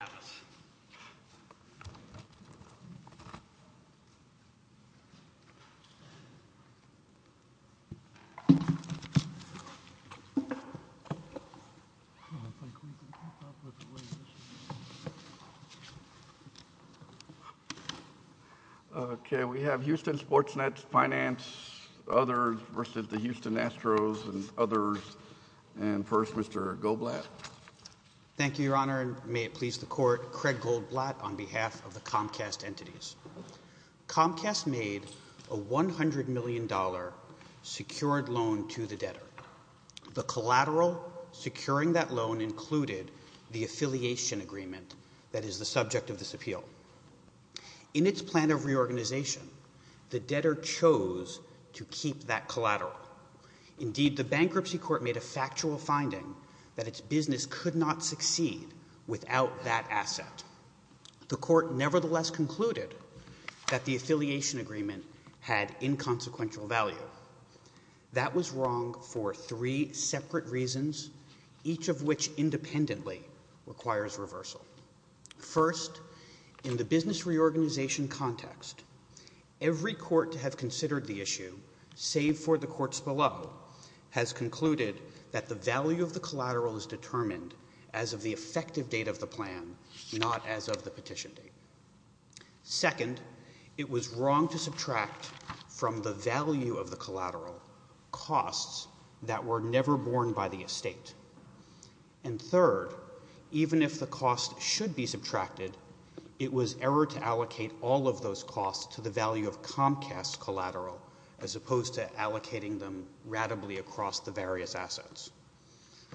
and others. And first, Mr. Goblat. Thank you, Your Honor, and may it please the Court that Craig Goldblatt on behalf of the Comcast entities. Comcast made a $100 million secured loan to the debtor. The collateral securing that loan included the affiliation agreement that is the subject of this appeal. In its plan of reorganization, the debtor chose to keep that collateral. Indeed, the bankruptcy court made a factual finding that its business could not succeed without that asset. The court nevertheless concluded that the affiliation agreement had inconsequential value. That was wrong for three separate reasons, each of which independently requires reversal. First, in the business reorganization context, every court to have considered the issue, save for the courts below, has concluded that the value of the collateral is determined as of the effective date of the plan, not as of the petition date. Second, it was wrong to subtract from the value of the collateral costs that were never borne by the estate. And third, even if the cost should be subtracted, it was error to allocate all of those costs to the value of Comcast's collateral as opposed to allocating them ratably across the various assets.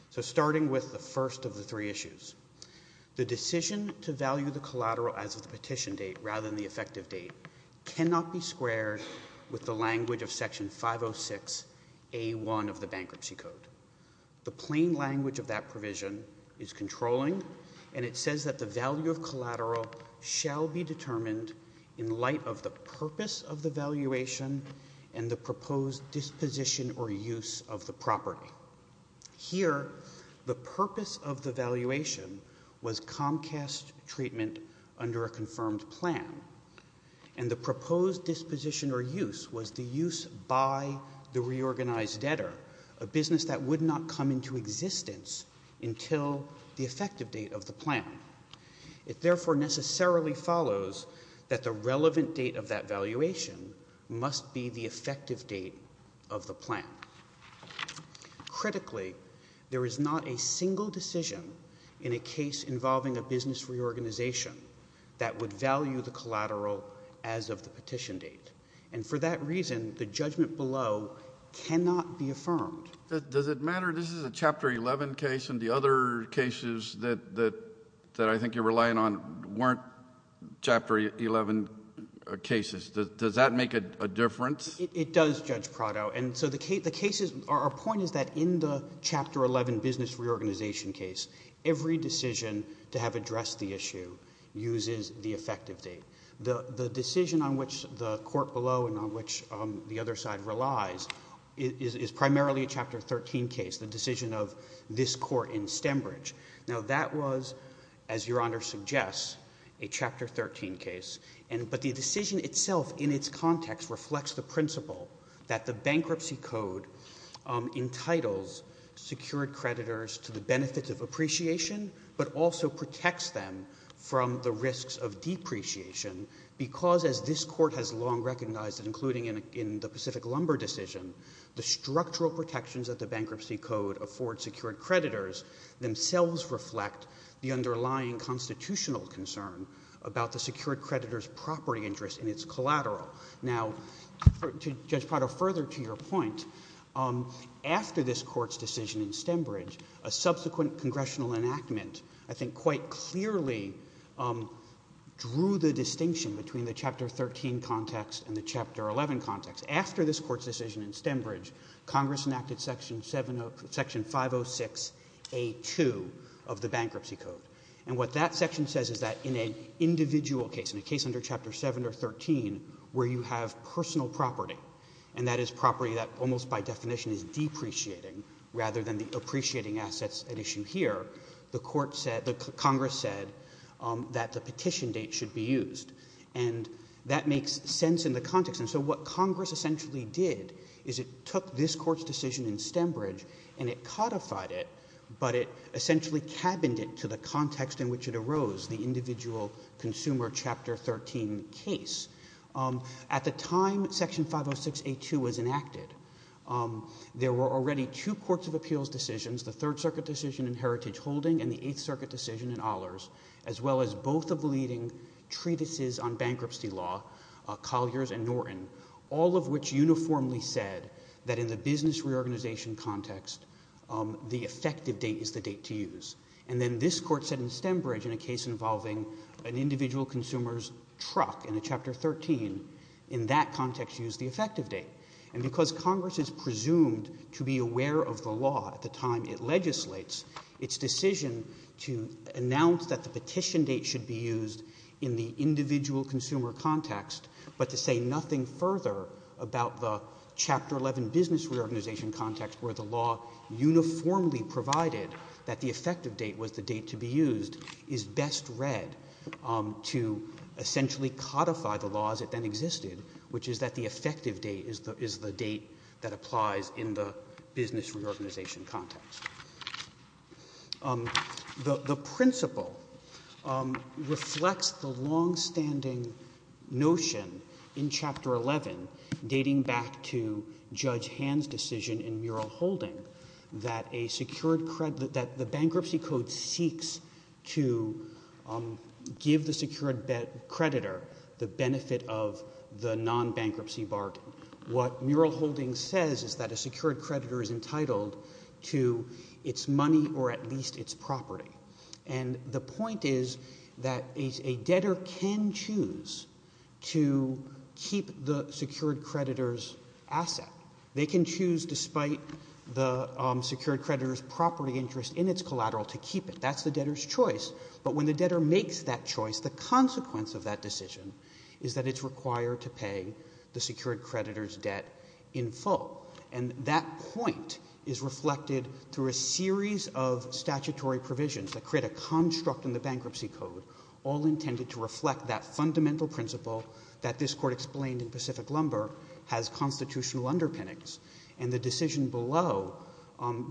So starting with the first of the three issues, the decision to value the collateral as of the petition date rather than the effective date cannot be squared with the language of Section 506A1 of the Bankruptcy Code. The plain language of that provision is controlling, and it says that the value of collateral shall be determined in light of the purpose of the valuation and the proposed disposition or use of the property. Here, the purpose of the valuation was Comcast treatment under a confirmed plan, and the proposed disposition or use was the use by the reorganized debtor, a business that would not come into existence until the effective date of the plan. It therefore necessarily follows that the relevant date of that valuation must be the effective date of the plan. Critically, there is not a single decision in a case involving a business reorganization that would value the collateral as of the petition date, and for that reason, the judgment below cannot be affirmed. Does it matter? This is a Chapter 11 case, and the other cases that I think you're relying on weren't Chapter 11 cases. Does that make a difference? It does, Judge Prado. Our point is that in the Chapter 11 business reorganization case, every decision to have addressed the issue uses the effective date. The decision on which the court below and on which the other side relies is primarily a Chapter 13 case, the one that was, as Your Honor suggests, a Chapter 13 case. But the decision itself in its context reflects the principle that the Bankruptcy Code entitles secured creditors to the benefits of appreciation, but also protects them from the risks of depreciation, because as this Court has long recognized, including in the Pacific Lumber decision, the structural protections that the Bankruptcy Code affords secured creditors themselves reflect the underlying constitutional concern about the secured creditor's property interest in its collateral. Now, Judge Prado, further to your point, after this Court's decision in Stembridge, a subsequent congressional enactment I think quite clearly drew the distinction between the Chapter 13 context and the Chapter Section 506A2 of the Bankruptcy Code. And what that section says is that in an individual case, in a case under Chapter 7 or 13 where you have personal property, and that is property that almost by definition is depreciating rather than the appreciating assets at issue here, the court said, the Congress said that the petition date should be used. And that makes sense in the context. And so what Congress essentially did is it took this Court's decision in Stembridge and it codified it, but it essentially cabined it to the context in which it arose, the individual consumer Chapter 13 case. At the time Section 506A2 was enacted, there were already two Courts of Appeals decisions, the Third Circuit decision in Heritage Holding and the Eighth Circuit decision in Ahlers, as well as both of the leading treatises on reorganization context, the effective date is the date to use. And then this Court said in Stembridge in a case involving an individual consumer's truck in a Chapter 13, in that context used the effective date. And because Congress is presumed to be aware of the law at the time it legislates, its decision to announce that the petition date should be used in the individual consumer context, but to say nothing further about the Chapter 11 business reorganization context where the law uniformly provided that the effective date was the date to be used, is best read to essentially codify the law as it then existed, which is that the effective date is the date that applies in the business reorganization context. The principle reflects the longstanding notion in Chapter 11 dating back to Judge Hill's decision in Mural Holding that the bankruptcy code seeks to give the secured creditor the benefit of the non-bankruptcy bargain. What Mural Holding says is that a secured creditor is entitled to its money or at least its property. And the point is that a debtor can choose to keep the secured creditor's asset. They can choose, despite the secured creditor's property interest in its collateral, to keep it. That's the debtor's choice. But when the debtor makes that choice, the consequence of that decision is that it's required to pay the secured creditor's debt in full. And that point is reflected through a series of statutory provisions that create a construct in the bankruptcy code, all intended to reflect that fundamental principle that this Court explained in Pacific Lumber has constitutional underpinnings. And the decision below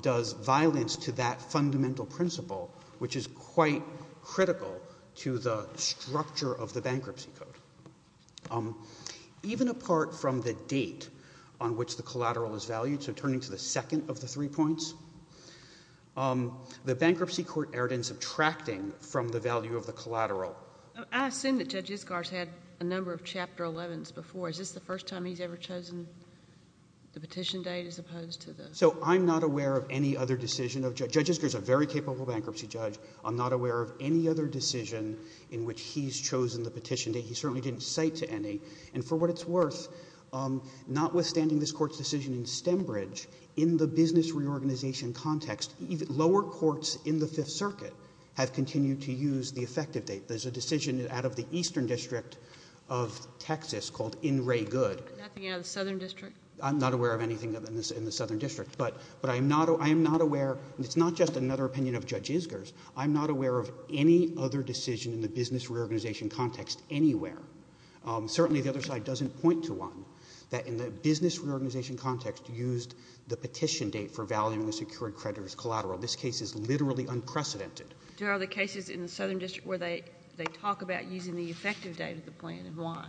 does violence to that fundamental principle, which is quite critical to the structure of the bankruptcy code. Even apart from the date on which the collateral is valued, so turning to the second of the three points, the bankruptcy court erred in subtracting from the value of the collateral. I assume that Judge Iskar has had a number of Chapter 11s before. Is this the first time he's ever chosen the petition date as opposed to the... So I'm not aware of any other decision of Judge Iskar. Judge Iskar is a very capable bankruptcy judge. I'm not aware of any other decision in which he's chosen the petition date. He certainly didn't cite to any. And for what it's worth, notwithstanding this Court's decision in Stembridge, in the business reorganization context, lower courts in the Southern District, there's a decision out of the Eastern District of Texas called In Ray Good. Nothing out of the Southern District? I'm not aware of anything in the Southern District. But I am not aware, and it's not just another opinion of Judge Iskar's, I'm not aware of any other decision in the business reorganization context anywhere. Certainly the other side doesn't point to one that in the business reorganization context used the petition date for valuing the secured creditor's collateral. This case is literally unprecedented. Do other cases in the Southern District where they talk about using the effective date of the plan and why?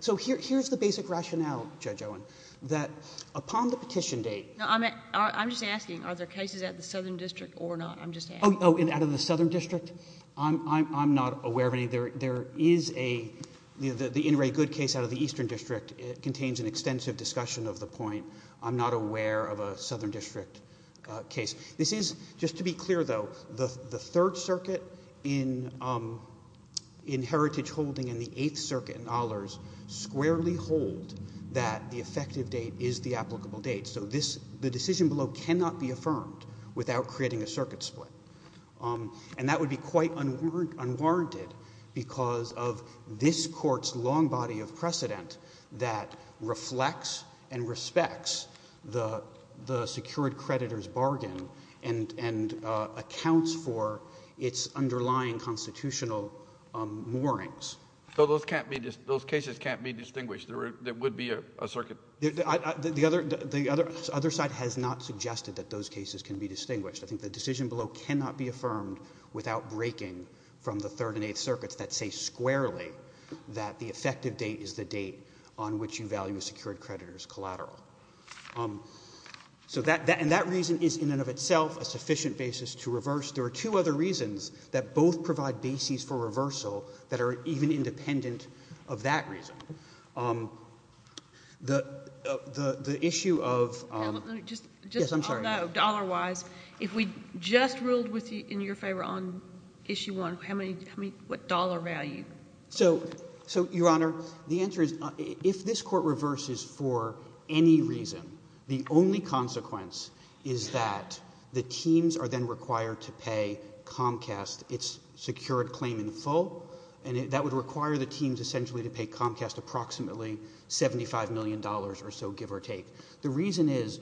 So here's the basic rationale, Judge Owen, that upon the petition date... I'm just asking, are there cases out of the Southern District or not? I'm just asking. Oh, out of the Southern District? I'm not aware of any. There is a, the In Ray Good case out of the Eastern District contains an extensive discussion of the point. I'm not aware of a Southern District case. This is, just to be clear though, the Third Circuit in Heritage Holding and the Eighth Circuit in Ahlers squarely hold that the effective date is the applicable date. So this, the decision below cannot be affirmed without creating a circuit split. And that would be quite unwarranted because of this court's long body of precedent that reflects and respects the secured creditor's bargain and accounts for its underlying constitutional moorings. So those can't be, those cases can't be distinguished? There would be a circuit? The other side has not suggested that those cases can be distinguished. I think the decision below cannot be affirmed without breaking from the Third and Eighth Circuits that say squarely that the effective date is the date on which you value a secured creditor's collateral. So that, and that reason is in and of itself a sufficient basis to reverse. There are two other reasons that both provide bases for reversal that are even independent of that reason. The, the issue of No, no, just Yes, I'm sorry. No, dollar-wise, if we just ruled in your favor on issue one, how many, what dollar value? So, so Your Honor, the answer is if this court reverses for any reason, the only consequence is that the teams are then required to pay Comcast its secured claim in full, and that would require the teams essentially to pay Comcast approximately $75 million or so, give or take. The reason is,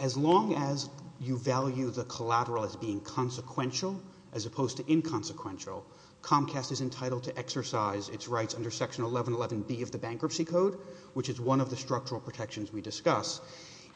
as long as you value the collateral as being consequential as opposed to inconsequential, Comcast is entitled to exercise its rights under Section 1111B of the Bankruptcy Code, which is one of the structural protections we discuss.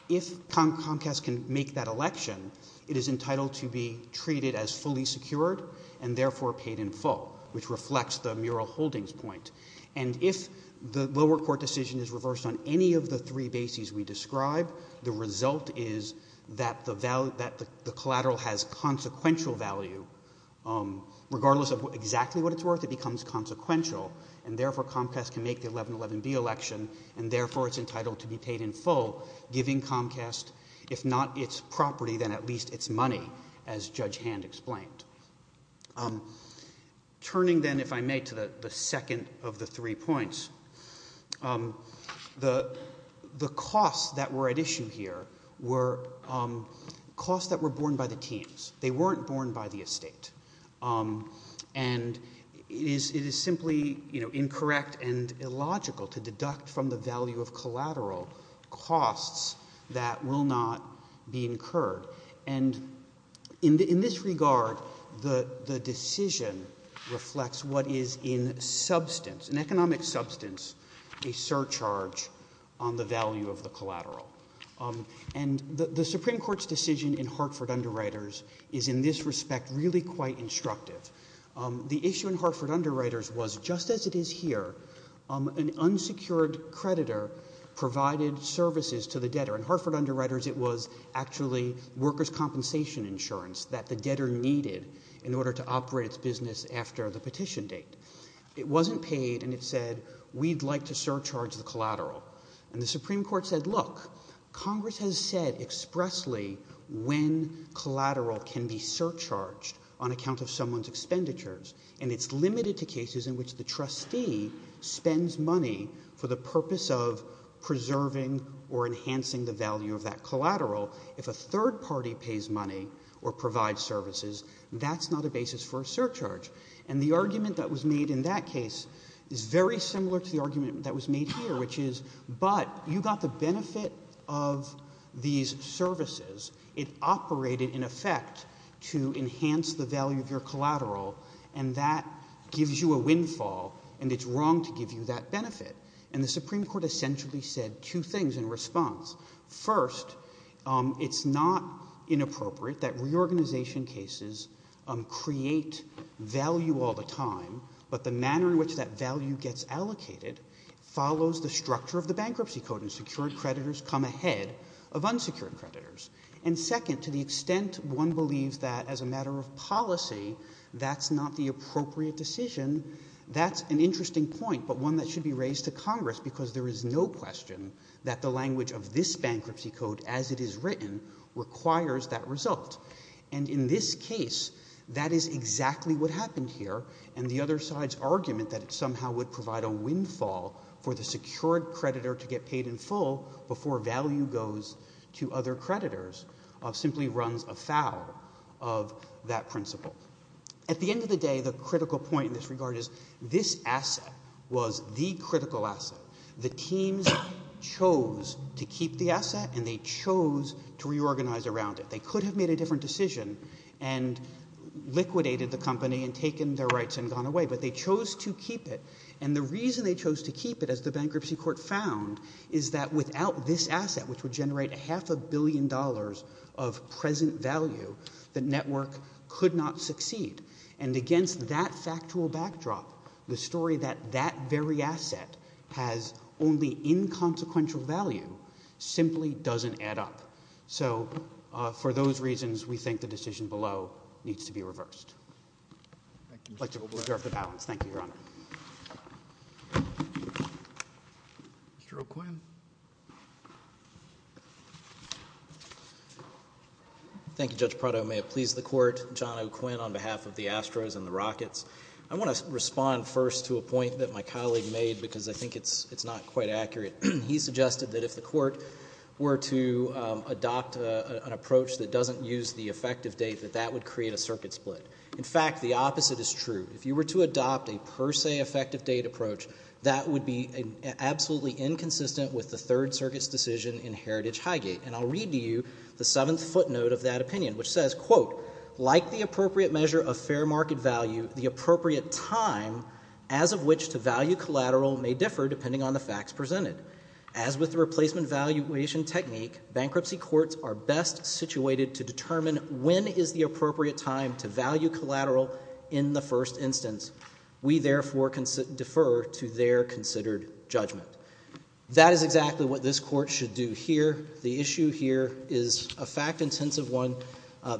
If Comcast can make that election, it is entitled to be treated as fully secured and therefore paid in full, which reflects the Mural Holdings point. And if the lower court decision is reversed on any of the three bases we describe, the result is that the collateral has consequential value regardless of exactly what it's worth, it becomes consequential, and therefore Comcast can make the 1111B election, and therefore it's entitled to be paid in full, giving Comcast, if not its property, then at least its money, as Judge Hand explained. Turning then, if I may, to the second of the three points, the costs that were at issue here were costs that were borne by the teams. They weren't borne by the estate. And it is simply incorrect and illogical to deduct from the value of collateral costs that will not be incurred. And in this regard, the decision reflects what is in substance, in economic value. And the Supreme Court's decision in Hartford Underwriters is in this respect really quite instructive. The issue in Hartford Underwriters was, just as it is here, an unsecured creditor provided services to the debtor. In Hartford Underwriters, it was actually workers' compensation insurance that the debtor needed in order to operate its business after the petition date. It wasn't paid, and it said, we'd like to surcharge the collateral. And the Supreme Court has said expressly when collateral can be surcharged on account of someone's expenditures. And it's limited to cases in which the trustee spends money for the purpose of preserving or enhancing the value of that collateral. If a third party pays money or provides services, that's not a basis for a surcharge. And the argument that was made in that case is very clear. When you offer these services, it operated in effect to enhance the value of your collateral, and that gives you a windfall, and it's wrong to give you that benefit. And the Supreme Court essentially said two things in response. First, it's not inappropriate that reorganization cases create value all the time, but the manner in which that value gets allocated follows the structure of the Bankruptcy Code, and secured creditors come ahead of unsecured creditors. And second, to the extent one believes that as a matter of policy, that's not the appropriate decision, that's an interesting point, but one that should be raised to Congress, because there is no question that the language of this Bankruptcy Code as it is written requires that result. And in this case, that is exactly what happened here, and the other side's argument that it somehow would provide a windfall for the secured creditor to get paid in full before value goes to other creditors simply runs afoul of that principle. At the end of the day, the critical point in this regard is this asset was the critical asset. The teams chose to keep the asset, and they chose to reorganize around it. They could have made a different decision and liquidated the company and taken their rights and gone away, but they chose to keep it. And the reason they chose to keep it, as the Bankruptcy Court found, is that without this asset, which would generate a half a billion dollars of present value, the network could not succeed. And against that factual backdrop, the story that that very asset has only inconsequential value simply doesn't add up. So for those reasons, we think the decision below needs to be reversed. I'd like to reserve the balance. Thank you, Your Honor. Mr. O'Quinn. Thank you, Judge Prado. May it please the Court, John O'Quinn, on behalf of the Astros and the Rockets. I want to respond first to a point that my colleague made, because I think it's not quite accurate. He suggested that if the Court were to adopt an approach that doesn't use the effective date, that that would create a circuit split. In fact, the opposite is true. If you were to adopt a per se effective date approach, that would be absolutely inconsistent with the Third Circuit's decision in Heritage Highgate. And I'll read to you the seventh footnote of that opinion, which says, quote, like the appropriate measure of fair market value, the appropriate time as of which to value collateral may differ depending on the facts presented. As with the replacement valuation technique, bankruptcy courts are best situated to determine when is the appropriate time to value collateral in the first instance. We, therefore, defer to their considered judgment. That is exactly what this Court should do here. The issue here is a fact-intensive one.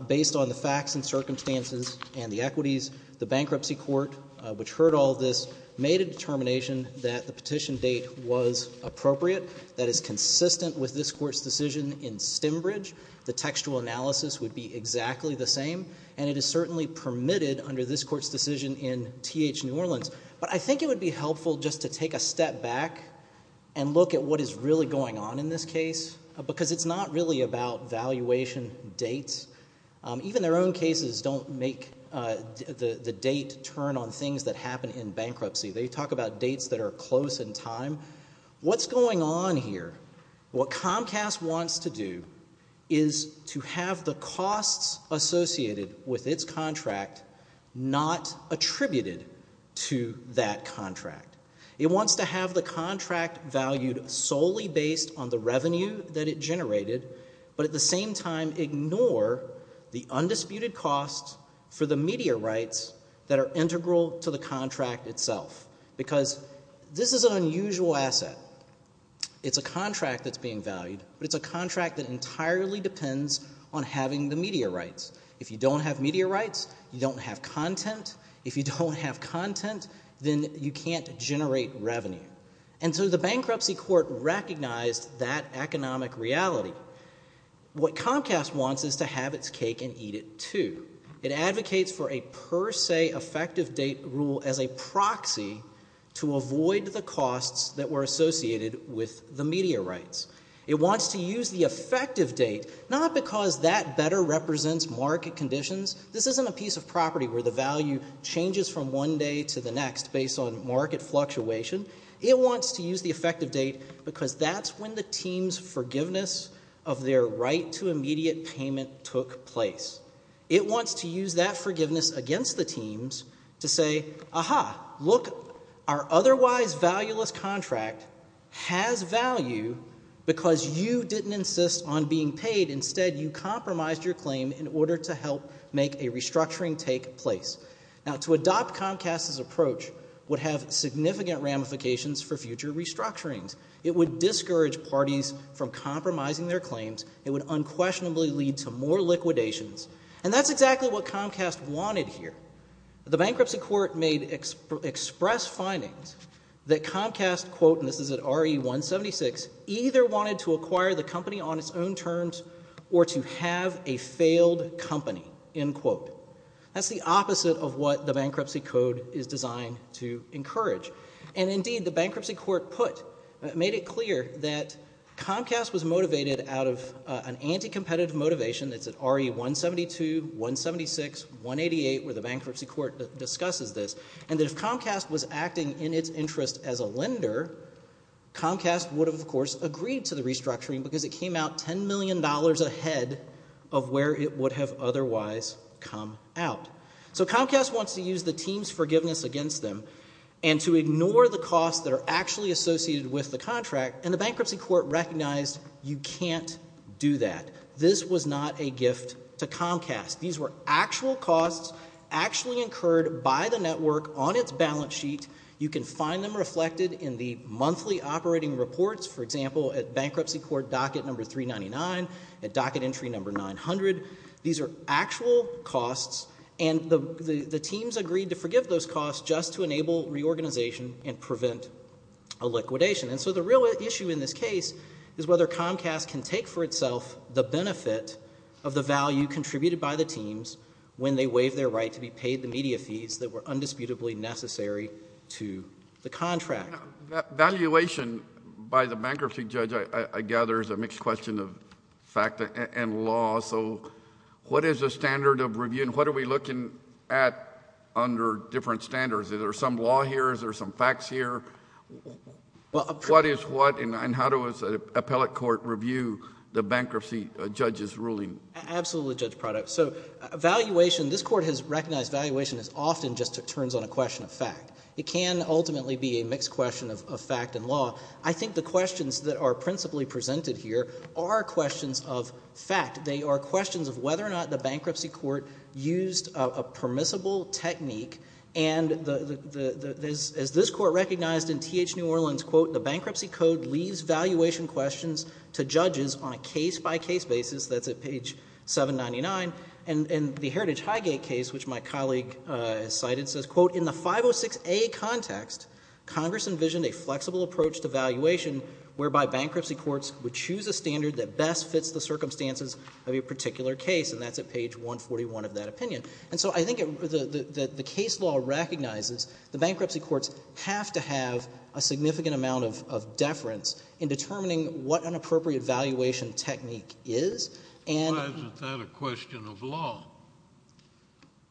Based on the facts and circumstances and the equities, the bankruptcy court, which heard all this, made a determination that the petition date was appropriate, that is consistent with this Stembridge, the textual analysis would be exactly the same, and it is certainly permitted under this Court's decision in T.H. New Orleans. But I think it would be helpful just to take a step back and look at what is really going on in this case, because it's not really about valuation dates. Even their own cases don't make the date turn on things that happen in bankruptcy. They talk about dates that are close in time. What's going on here? What they're trying to do is to have the costs associated with its contract not attributed to that contract. It wants to have the contract valued solely based on the revenue that it generated, but at the same time ignore the undisputed costs for the media rights that are integral to the contract itself, because this is an unusual asset. It's a contract that's being valued, but it's a contract that entirely depends on having the media rights. If you don't have media rights, you don't have content. If you don't have content, then you can't generate revenue. And so the bankruptcy court recognized that economic reality. What Comcast wants is to have its cake and eat it too. It advocates for a per se effective date rule as a proxy to avoid the costs that were associated with the media rights. It wants to use the effective date not because that better represents market conditions. This isn't a piece of property where the value changes from one day to the next based on market fluctuation. It wants to use the effective date because that's when the team's forgiveness of their right to immediate payment took place. It wants to use that forgiveness against the teams to say, aha, look, our otherwise valueless contract has value because you didn't insist on being paid. Instead, you compromised your claim in order to help make a restructuring take place. Now, to adopt Comcast's approach would have significant ramifications for future restructurings. It would discourage parties from compromising their claims. It would unquestionably lead to more liquidations. And that's exactly what happened here. The Bankruptcy Court made express findings that Comcast, quote, and this is at RE-176, either wanted to acquire the company on its own terms or to have a failed company, end quote. That's the opposite of what the Bankruptcy Code is designed to encourage. And indeed, the Bankruptcy Court put, made it clear that Comcast was motivated out of an anti-competitive motivation. That's at RE-172, 176, 188, where the Bankruptcy Court discusses this. And that if Comcast was acting in its interest as a lender, Comcast would have, of course, agreed to the restructuring because it came out $10 million ahead of where it would have otherwise come out. So Comcast wants to use the team's forgiveness against them and to ignore the costs that are actually associated with the contract. And the Bankruptcy Court recognized you can't do that. This was not a gift to Comcast. These were actual costs actually incurred by the network on its balance sheet. You can find them reflected in the monthly operating reports, for example, at Bankruptcy Court docket number 399, at docket entry number 900. These are actual costs. And the teams agreed to forgive those costs just to enable reorganization and prevent a liquidation. And so the real issue in this case is whether Comcast can take for itself the benefit of the value contributed by the teams when they waive their right to be paid the media fees that were undisputably necessary to the contract. Valuation by the bankruptcy judge, I gather, is a mixed question of fact and law. So what is the standard of review and what are we looking at under different standards? Is there some law here? Is there some facts here? What is what and how does an appellate court review the bankruptcy judge's ruling? Absolutely, Judge Prado. So valuation, this Court has recognized valuation as often just turns on a question of fact. It can ultimately be a mixed question of fact and law. I think the questions that are principally presented here are questions of fact. They are questions of whether or not the bankruptcy court used a permissible technique. And as this Court recognized in T.H. New Orleans, quote, the bankruptcy code leaves valuation questions to judges on a case-by-case basis. That's at page 799. And the Heritage Highgate case, which my colleague cited, says, quote, in the 506A context, Congress envisioned a flexible approach to valuation whereby bankruptcy courts would choose a standard that best fits the case. And that's at page 141 of that opinion. And so I think that the case law recognizes the bankruptcy courts have to have a significant amount of deference in determining what an appropriate valuation technique is, and— Why isn't that a question of law?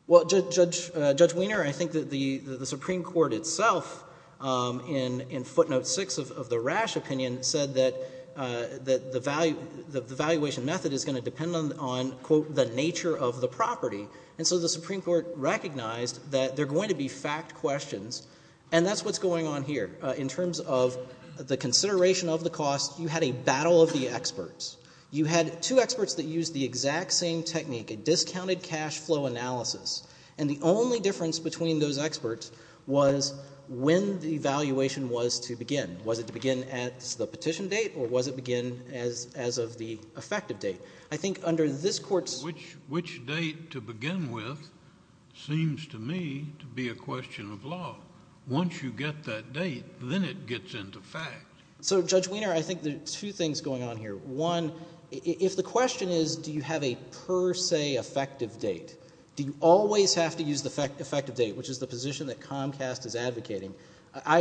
Well, Judge Weiner, I think that the Supreme Court itself in footnote 6 of the Rash opinion said that the valuation method is going to depend on, quote, the nature of the property. And so the Supreme Court recognized that there are going to be fact questions. And that's what's going on here. In terms of the consideration of the cost, you had a battle of the experts. You had two experts that used the exact same technique, a discounted cash flow analysis. And the only difference between those experts was when the valuation was to begin. Was it to begin at the petition date, or was it to begin as of the effective date? I think under this Court's— Which date to begin with seems to me to be a question of law. Once you get that date, then it gets into fact. So Judge Weiner, I think there are two things going on here. One, if the question is do you have a per se effective date, do you always have to use the effective date, which is the I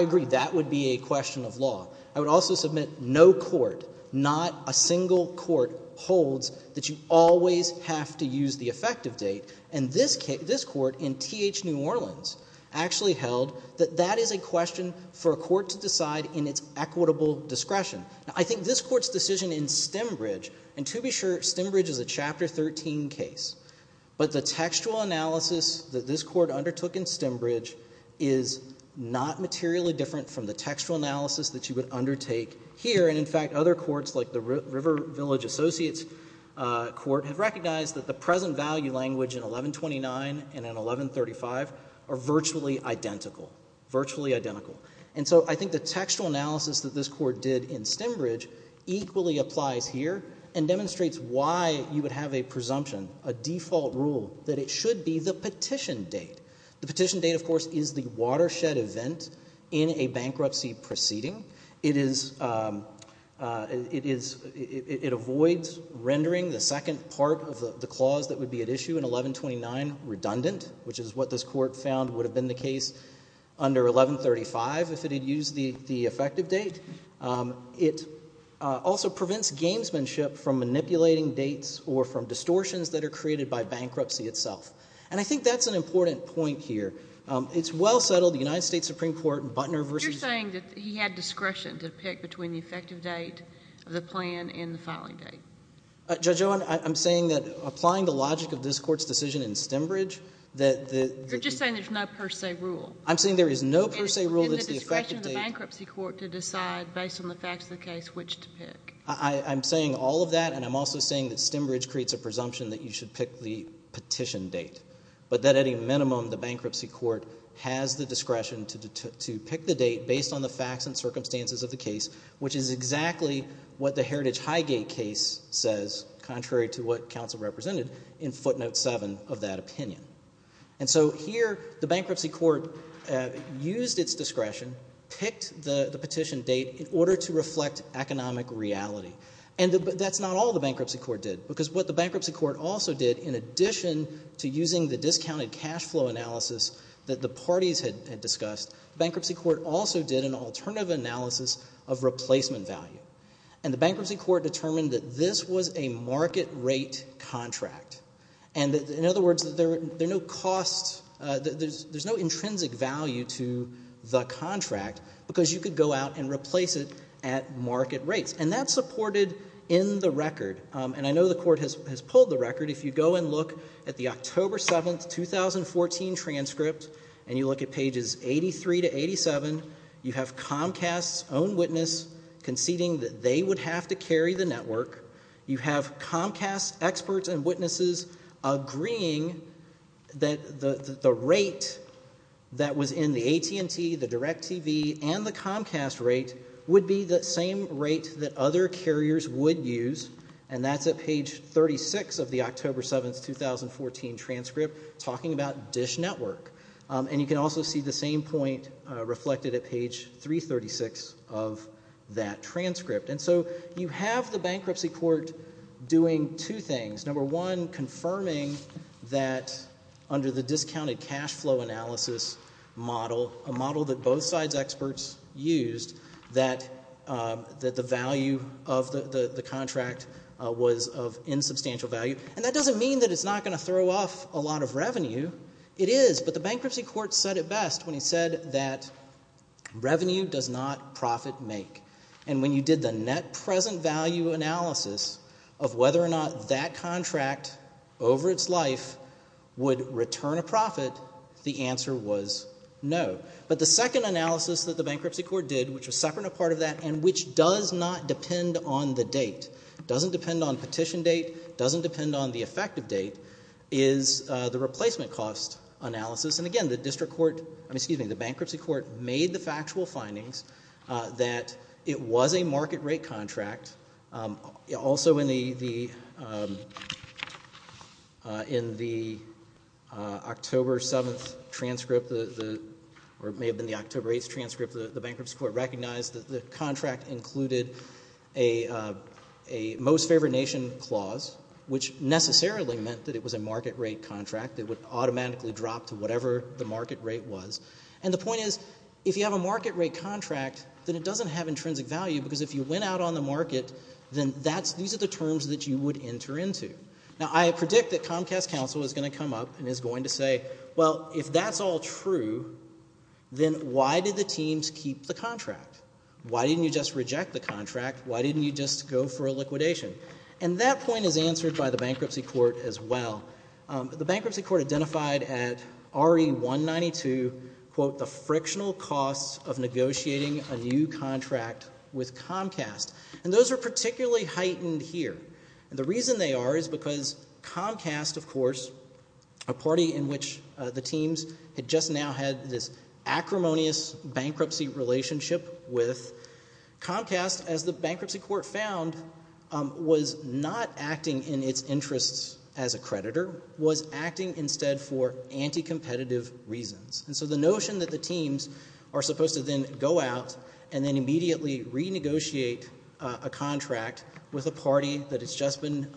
would also submit no court, not a single court, holds that you always have to use the effective date. And this court in T.H. New Orleans actually held that that is a question for a court to decide in its equitable discretion. I think this Court's decision in Stembridge—and to be sure, Stembridge is a Chapter 13 case. But the textual analysis that this Court undertook in Stembridge is not materially different from the textual analysis that you would undertake here. And in fact, other courts like the River Village Associates Court have recognized that the present value language in 1129 and in 1135 are virtually identical, virtually identical. And so I think the textual analysis that this Court did in Stembridge equally applies here and demonstrates why you would have a presumption, a default rule, that it should be the petition date. The petition date, of course, is the watershed event in a bankruptcy proceeding. It is—it is—it avoids rendering the second part of the clause that would be at issue in 1129 redundant, which is what this Court found would have been the case under 1135 if it had used the effective date. It also prevents gamesmanship from manipulating dates or from distortions that are created by bankruptcy itself. And I think that's an important point here. It's well-settled. The United States Supreme Court in Butner v.— You're saying that he had discretion to pick between the effective date of the plan and the filing date. Judge Owen, I'm saying that applying the logic of this Court's decision in Stembridge, that the— You're just saying there's no per se rule. I'm saying there is no per se rule that's the effective date— And the discretion of the bankruptcy court to decide based on the facts of the case which to pick. I—I'm saying all of that, and I'm also saying that Stembridge creates a presumption that you should pick the petition date, but that at any minimum the bankruptcy court has the discretion to pick the date based on the facts and circumstances of the case, which is exactly what the Heritage Highgate case says, contrary to what counsel represented in footnote 7 of that opinion. And so here the bankruptcy court used its discretion, picked the petition date in order to reflect economic reality. And that's not all the bankruptcy court did, because what the bankruptcy court also did, in addition to using the discounted cash flow analysis that the parties had discussed, the bankruptcy court also did an alternative analysis of replacement value. And the bankruptcy court determined that this was a market rate contract. And in other words, there are no costs—there's no intrinsic value to the contract because you could go out and replace it at market rates. And that's supported in the record. And I know the court has pulled the record. If you go and look at the October 7, 2014 transcript, and you look at pages 83 to 87, you have Comcast's own witness conceding that they would have to carry the network. You have Comcast experts and witnesses agreeing that the rate that was in the AT&T, the DirecTV, and the Comcast rate would be the same rate that other carriers would use, and that's at page 36 of the October 7, 2014 transcript talking about DISH Network. And you can also see the same point reflected at page 336 of that transcript. And so you have the bankruptcy court doing two things. Number one, confirming that under the discounted cash flow analysis model, a model that both sides' experts used, that the value of the contract was of insubstantial value. And that doesn't mean that it's not going to throw off a lot of revenue. It is, but the bankruptcy court said it best when he said that revenue does not profit make. And when you did the net present value analysis of whether or not that contract over its life would return a profit, the answer was no. But the second analysis that the bankruptcy court did, which was a separate part of that, and which does not depend on the date, doesn't depend on petition date, doesn't depend on the effective date, is the replacement cost analysis. And again, the bankruptcy court made the factual findings that it was a market rate contract. Also in the October 7 transcript, or it may have been the October 8 transcript, the bankruptcy court recognized that the contract included a most favored nation clause, which necessarily meant that it was a market rate contract. It would automatically drop to whatever the market rate was. And the point is, if you have a market rate contract, then it doesn't have intrinsic value because if you went out on the market, then these are the terms that you would enter into. Now, I predict that Comcast counsel is going to come up and is going to say, well, if that's all true, then why did the teams keep the contract? Why didn't you just reject the contract? Why didn't you just go for a liquidation? And that point is answered by the bankruptcy court as well. The bankruptcy court identified at RE-192, quote, the frictional costs of negotiating a new contract with Comcast. And those are particularly heightened here. And the reason they are is because Comcast, of course, a party in which the teams had just now had this acrimonious bankruptcy relationship with, Comcast, as the bankruptcy court found, was not acting in its interests as a creditor, was acting instead for anti-competitive reasons. And so the notion that the teams are supposed to then go out and then immediately renegotiate a contract with a party that has just been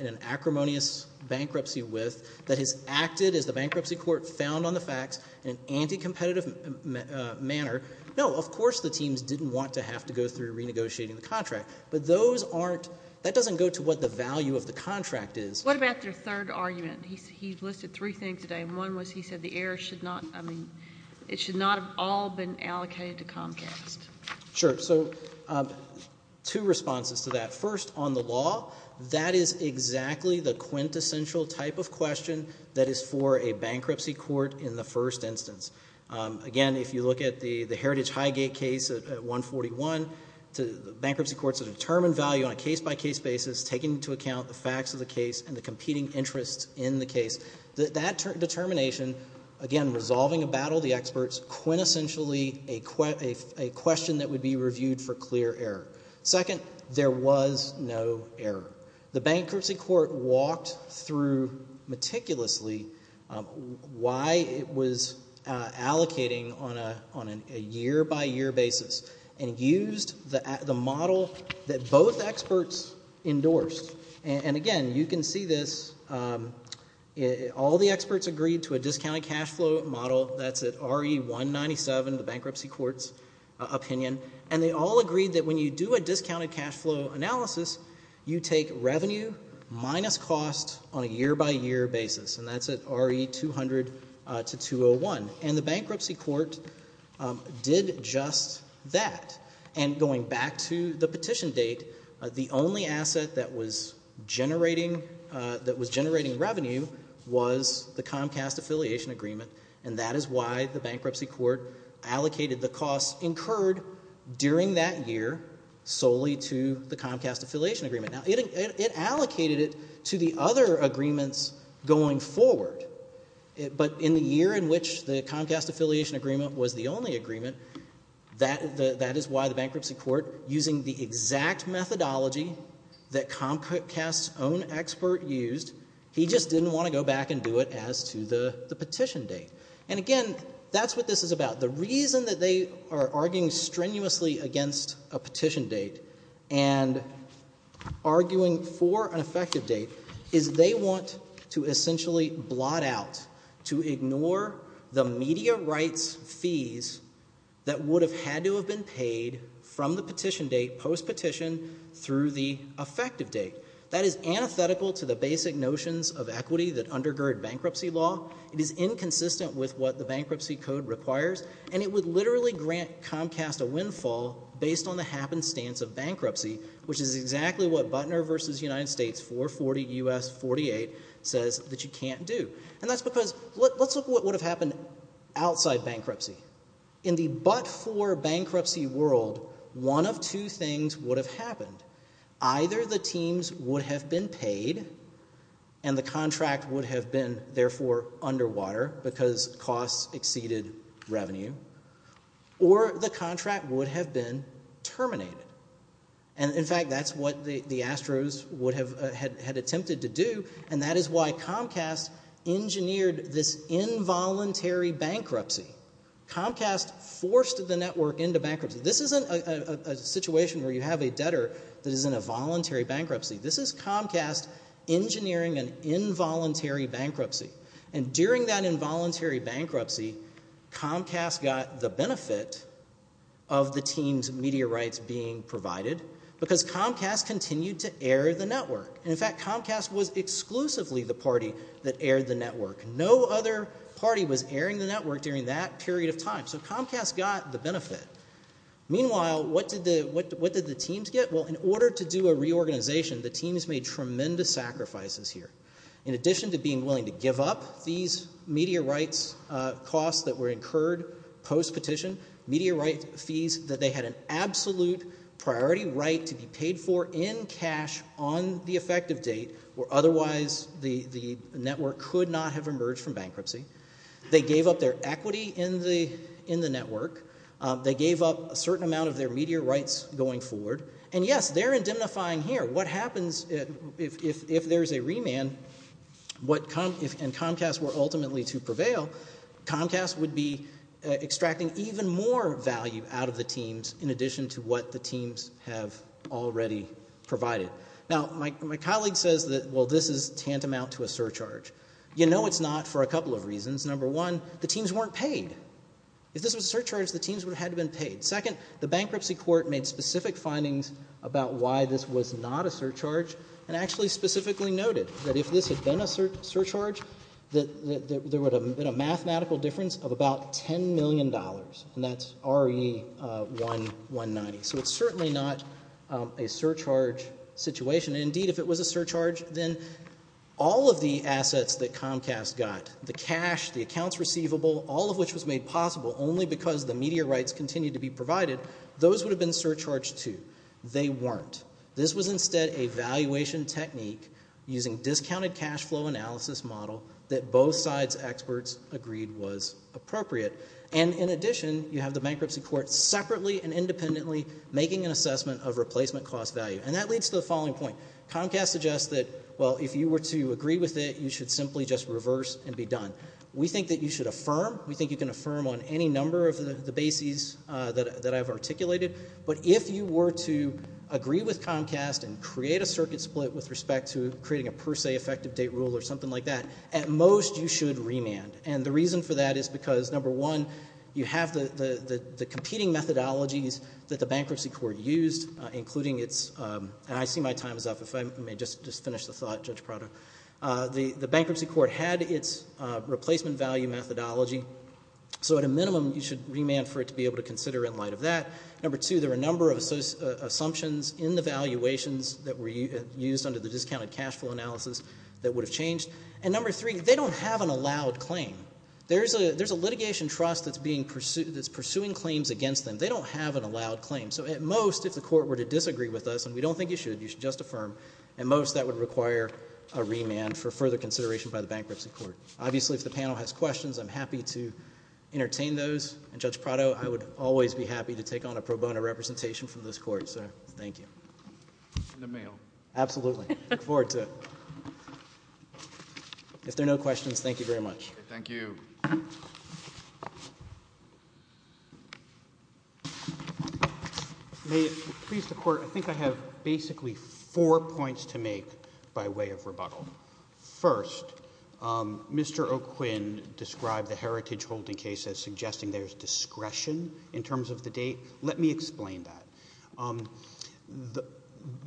in an acrimonious bankruptcy with, that has acted, as the bankruptcy court found on the facts, in an anti-competitive manner, no, of course the teams didn't want to have to go through renegotiating the contract. But those aren't, that doesn't go to what the value of the contract is. What about their third argument? He listed three things today, and one was he said the heirs should not, I mean, it should not have all been allocated to Comcast. Sure. So two responses to that. First, on the law, that is exactly the quintessential type of question that is for a bankruptcy court in the first instance. Again, if you look at the Heritage Highgate case at 141, bankruptcy courts have determined value on a case-by-case basis, taking into account the facts of the case and the competing interests in the case. That determination, again, resolving a battle of the experts, quintessentially a question that would be reviewed for clear error. Second, there was no error. The bankruptcy court walked through meticulously why it was allocating on a year-by-year basis and used the model that both experts endorsed. And again, you can see this, all the experts agreed to a discounted cash flow model, that's the bankruptcy court's opinion, and they all agreed that when you do a discounted cash flow analysis, you take revenue minus cost on a year-by-year basis, and that's at RE 200 to 201. And the bankruptcy court did just that. And going back to the petition date, the only asset that was generating revenue was the Comcast affiliation agreement, and that is why the bankruptcy court allocated the costs incurred during that year solely to the Comcast affiliation agreement. Now, it allocated it to the other agreements going forward, but in the year in which the Comcast affiliation agreement was the only agreement, that is why the bankruptcy court, using the exact methodology that Comcast's own expert used, he just didn't want to go back and do it as to the petition date. And again, that's what this is about. The reason that they are arguing strenuously against a petition date and arguing for an effective date is they want to essentially blot out, to ignore the media rights fees that would have had to have been paid from the petition date, post-petition, through the effective date. That is antithetical to the basic notions of equity that undergird bankruptcy law. It is inconsistent with what the bankruptcy code requires, and it would literally grant Comcast a windfall based on the happenstance of bankruptcy, which is exactly what Butner v. United States 440 U.S. 48 says that you can't do. And that's because, let's look at what would have happened outside bankruptcy. In the but-for bankruptcy world, one of two things would have happened. Either the teams would have been paid, and the contract would have been, therefore, underwater because costs exceeded revenue, or the contract would have been terminated. And in fact, that's what the Astros had attempted to do, and that is why Comcast engineered this involuntary bankruptcy Comcast forced the network into bankruptcy. This isn't a situation where you have a debtor that is in a voluntary bankruptcy. This is Comcast engineering an involuntary bankruptcy. And during that involuntary bankruptcy, Comcast got the benefit of the team's media rights being provided because Comcast continued to air the network. And in fact, Comcast was exclusively the party that aired the network. No other party was airing the network during that period of time. So Comcast got the benefit. Meanwhile, what did the teams get? Well, in order to do a reorganization, the teams made tremendous sacrifices here. In addition to being willing to give up these media rights costs that were incurred post-petition, media rights fees that they had an absolute priority right to be paid for in cash on the effective date where otherwise the network could not have emerged from bankruptcy. They gave up their equity in the network. They gave up a certain amount of their media rights going forward. And yes, they're indemnifying here. What happens if there's a remand and Comcast were ultimately to prevail, Comcast would be extracting even more value out of the teams in addition to what the teams have already provided. Now, my colleague says that, well, this is tantamount to a surcharge. You know it's not for a couple of reasons. Number one, the teams weren't paid. If this was a surcharge, the teams would have had to have been paid. Second, the bankruptcy court made specific findings about why this was not a surcharge and actually specifically noted that if this had been a surcharge, that there would have been a mathematical difference of about $10 million. And that's RE-1190. So it's certainly not a surcharge situation. Indeed, if it was a surcharge, then all of the assets that Comcast got, the cash, the accounts receivable, all of which was made possible only because the media rights continued to be provided, those would have been surcharged too. They weren't. This was instead a valuation technique using discounted cash flow analysis model that both sides' experts agreed was appropriate. And in addition, you have the bankruptcy court separately and independently making an assessment of replacement cost value. And that leads to the following point. Comcast suggests that, well, if you were to agree with it, you should simply just reverse and be done. We think that you should affirm. We think you can affirm on any number of the bases that I've articulated. But if you were to agree with Comcast and create a circuit split with respect to creating a per se effective date rule or something like that, at most you should remand. And the reason for that is because, number one, you have the competing methodologies that the bankruptcy court used, including its, and I see my time is up. If I may just finish the thought, Judge Prado. The bankruptcy court had its replacement value methodology. So at a minimum, you should remand for it to be able to consider in light of that. Number two, there were a number of assumptions in the valuations that were used under the discounted cash flow analysis that would have changed. And number three, they don't have an allowed claim. There's a litigation trust that's pursuing claims against them. They don't have an allowed claim. So at most, if the court were to disagree with us, and we don't think you should, you should just affirm, at most that would require a remand for further consideration by the bankruptcy court. Obviously, if the panel has questions, I'm happy to entertain those. And Judge Prado, I would always be happy to take on a pro bono representation from this court. So thank you. In the mail. Absolutely. I look forward to it. If there are no questions, thank you very much. Thank you. May it please the Court, I think I have basically four points to make by way of rebuttal. First, Mr. O'Quinn described the heritage holding case as suggesting there's discretion in Let me explain that.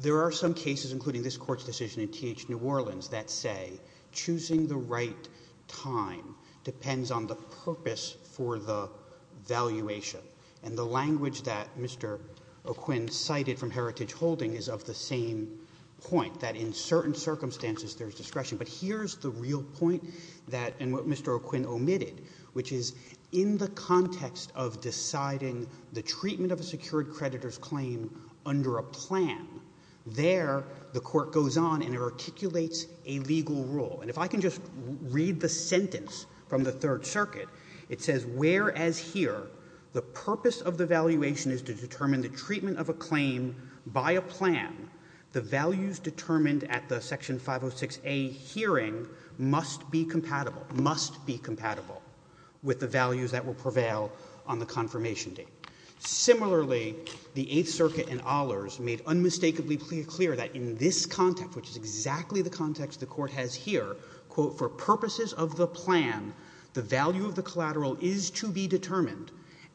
There are some cases, including this court's decision in TH New Orleans, that say choosing the right time depends on the purpose for the valuation. And the language that Mr. O'Quinn cited from heritage holding is of the same point, that in certain circumstances there's discretion. But here's the real point that Mr. O'Quinn omitted, which is in the context of deciding the treatment of a secured creditor's claim under a plan, there the court goes on and articulates a legal rule. And if I can just read the sentence from the Third Circuit, it says, whereas here the purpose of the valuation is to determine the treatment of a claim by a plan, the values determined at the Section 506a hearing must be compatible, must be compatible with the values that will prevail on the confirmation date. Similarly, the Eighth Circuit in Ahlers made unmistakably clear that in this context, which is exactly the context the Court has here, quote, for purposes of the plan, the value of the collateral is to be determined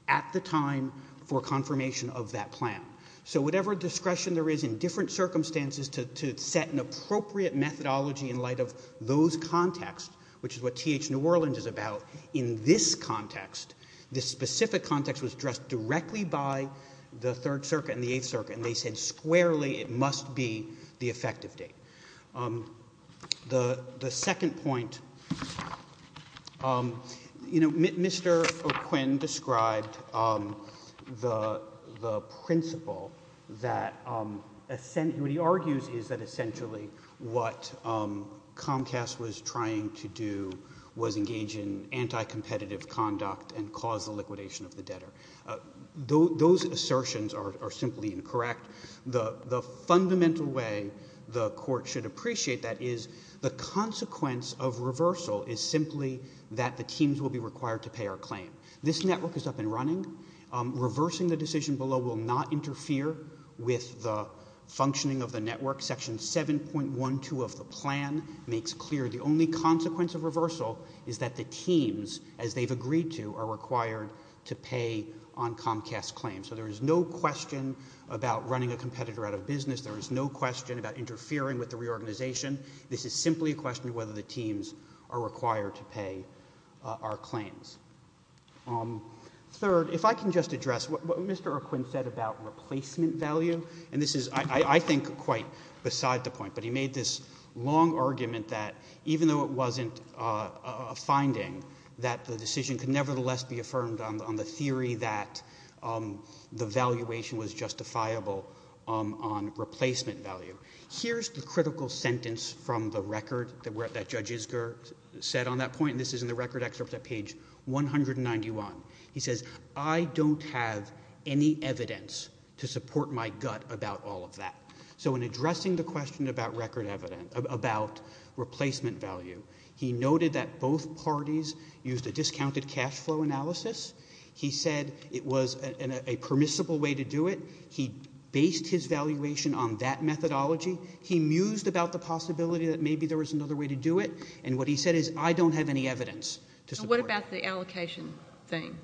at the time for confirmation of that plan. So whatever discretion there is in different circumstances to set an appropriate methodology in light of those contexts, which is what T.H. New Orleans is about, in this context, this specific context was addressed directly by the Third Circuit and the Eighth Circuit, and they said squarely it must be the effective date. The second point, you know, Mr. O'Quinn described the principle that what he argues is that essentially what Comcast was trying to do was engage in anti-competitive conduct and cause the liquidation of the debtor. Those assertions are simply incorrect. The fundamental way the Court should appreciate that is the consequence of reversal is simply that the teams will be required to pay our claim. This network is up and running. Reversing the decision below will not interfere with the functioning of the network. Section 7.12 of the plan makes clear the only consequence of reversal is that the teams, as they've agreed to, are required to pay on Comcast's claim. So there is no question about running a competitor out of business. There is no question about interfering with the reorganization. This is simply a question of whether the teams are required to pay our claims. Third, if I can just address what Mr. O'Quinn said about replacement value, and this is, I think, quite beside the point, but he made this long argument that even though it wasn't a finding, that the decision could nevertheless be affirmed on the theory that the valuation was justifiable on replacement value. Here's the critical sentence from the record that Judge Isger said on that point, and this is in the record excerpt at page 191. He says, I don't have any evidence to support my gut about all of that. So in addressing the question about replacement value, he noted that both parties used a discounted cash flow analysis. He said it was a permissible way to do it. He based his valuation on that methodology. He mused about the possibility that maybe there was another way to do it, and what he said is, I don't have any evidence to support that. What about the allocation thing?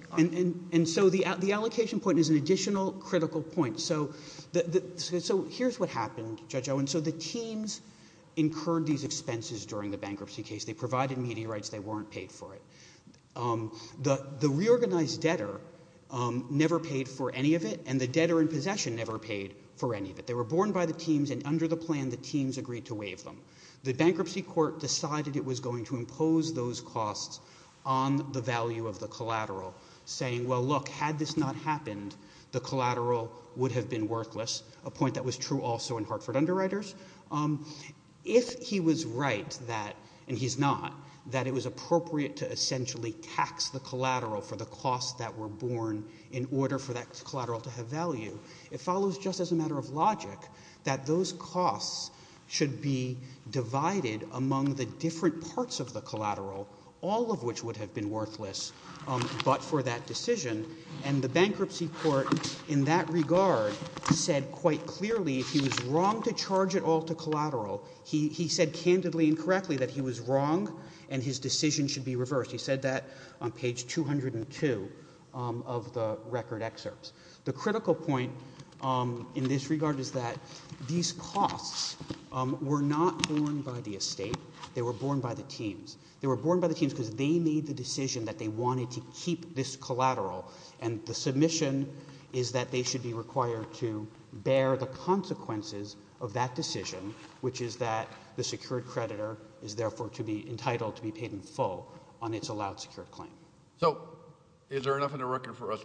So the allocation point is an additional critical point. So here's what happened, Judge Owen. So the teams incurred these expenses during the bankruptcy case. They provided media rights. They weren't paid for it. The reorganized debtor never paid for any of it, and the debtor in possession never paid for any of it. They were borne by the teams, and under the plan, the teams agreed to waive them. The bankruptcy court decided it was going to impose those costs on the value of the collateral, saying, well, look, had this not happened, the collateral would have been worthless, a point that was true also in Hartford Underwriters. If he was right that, and he's not, that it was appropriate to essentially tax the collateral for the costs that were borne in order for that collateral to have value, it follows just as a matter of logic that those costs should be divided among the different parts of the collateral, all of which would have been worthless, but for that decision, and the bankruptcy court in that regard said quite clearly if he was wrong to charge it all to collateral, he said candidly and correctly that he was wrong and his decision should be reversed. He said that on page 202 of the record excerpts. The critical point in this regard is that these costs were not borne by the estate. They were borne by the teams. They were borne by the teams because they made the decision that they wanted to keep this collateral, and the submission is that they should be required to bear the consequences of that decision, which is that the secured creditor is therefore to be entitled to be paid in full on its allowed secured claim. So is there enough in the record for us,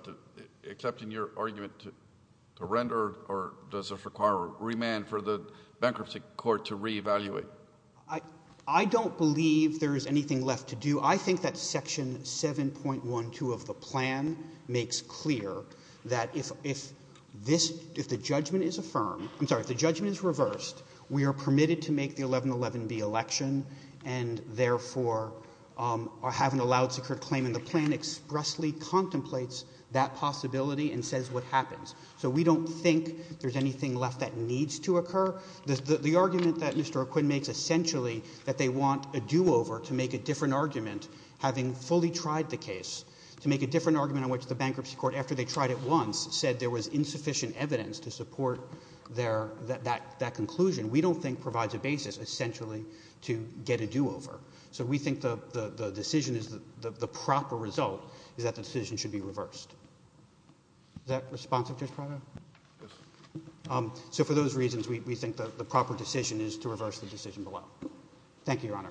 except in your argument, to render or does this require a remand for the bankruptcy court to reevaluate? I don't believe there is anything left to do. I think that section 7.12 of the plan makes clear that if this, if the judgment is affirmed, I'm sorry, if the judgment is reversed, we are permitted to make the 1111B election and therefore have an allowed secured claim, and the plan expressly contemplates that possibility and says what happens. So we don't think there's anything left that needs to occur. The argument that Mr. Arquin makes essentially that they want a do-over to make a different argument, having fully tried the case, to make a different argument on which the bankruptcy court, after they tried it once, said there was insufficient evidence to support their, that conclusion, we don't think provides a basis essentially to get a do-over. So we think the decision is, the proper result is that the decision should be reversed. Is that responsive, Judge Prado? Yes. So for those reasons, we think the proper decision is to reverse the decision below. Thank you, Your Honor.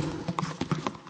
Thank you.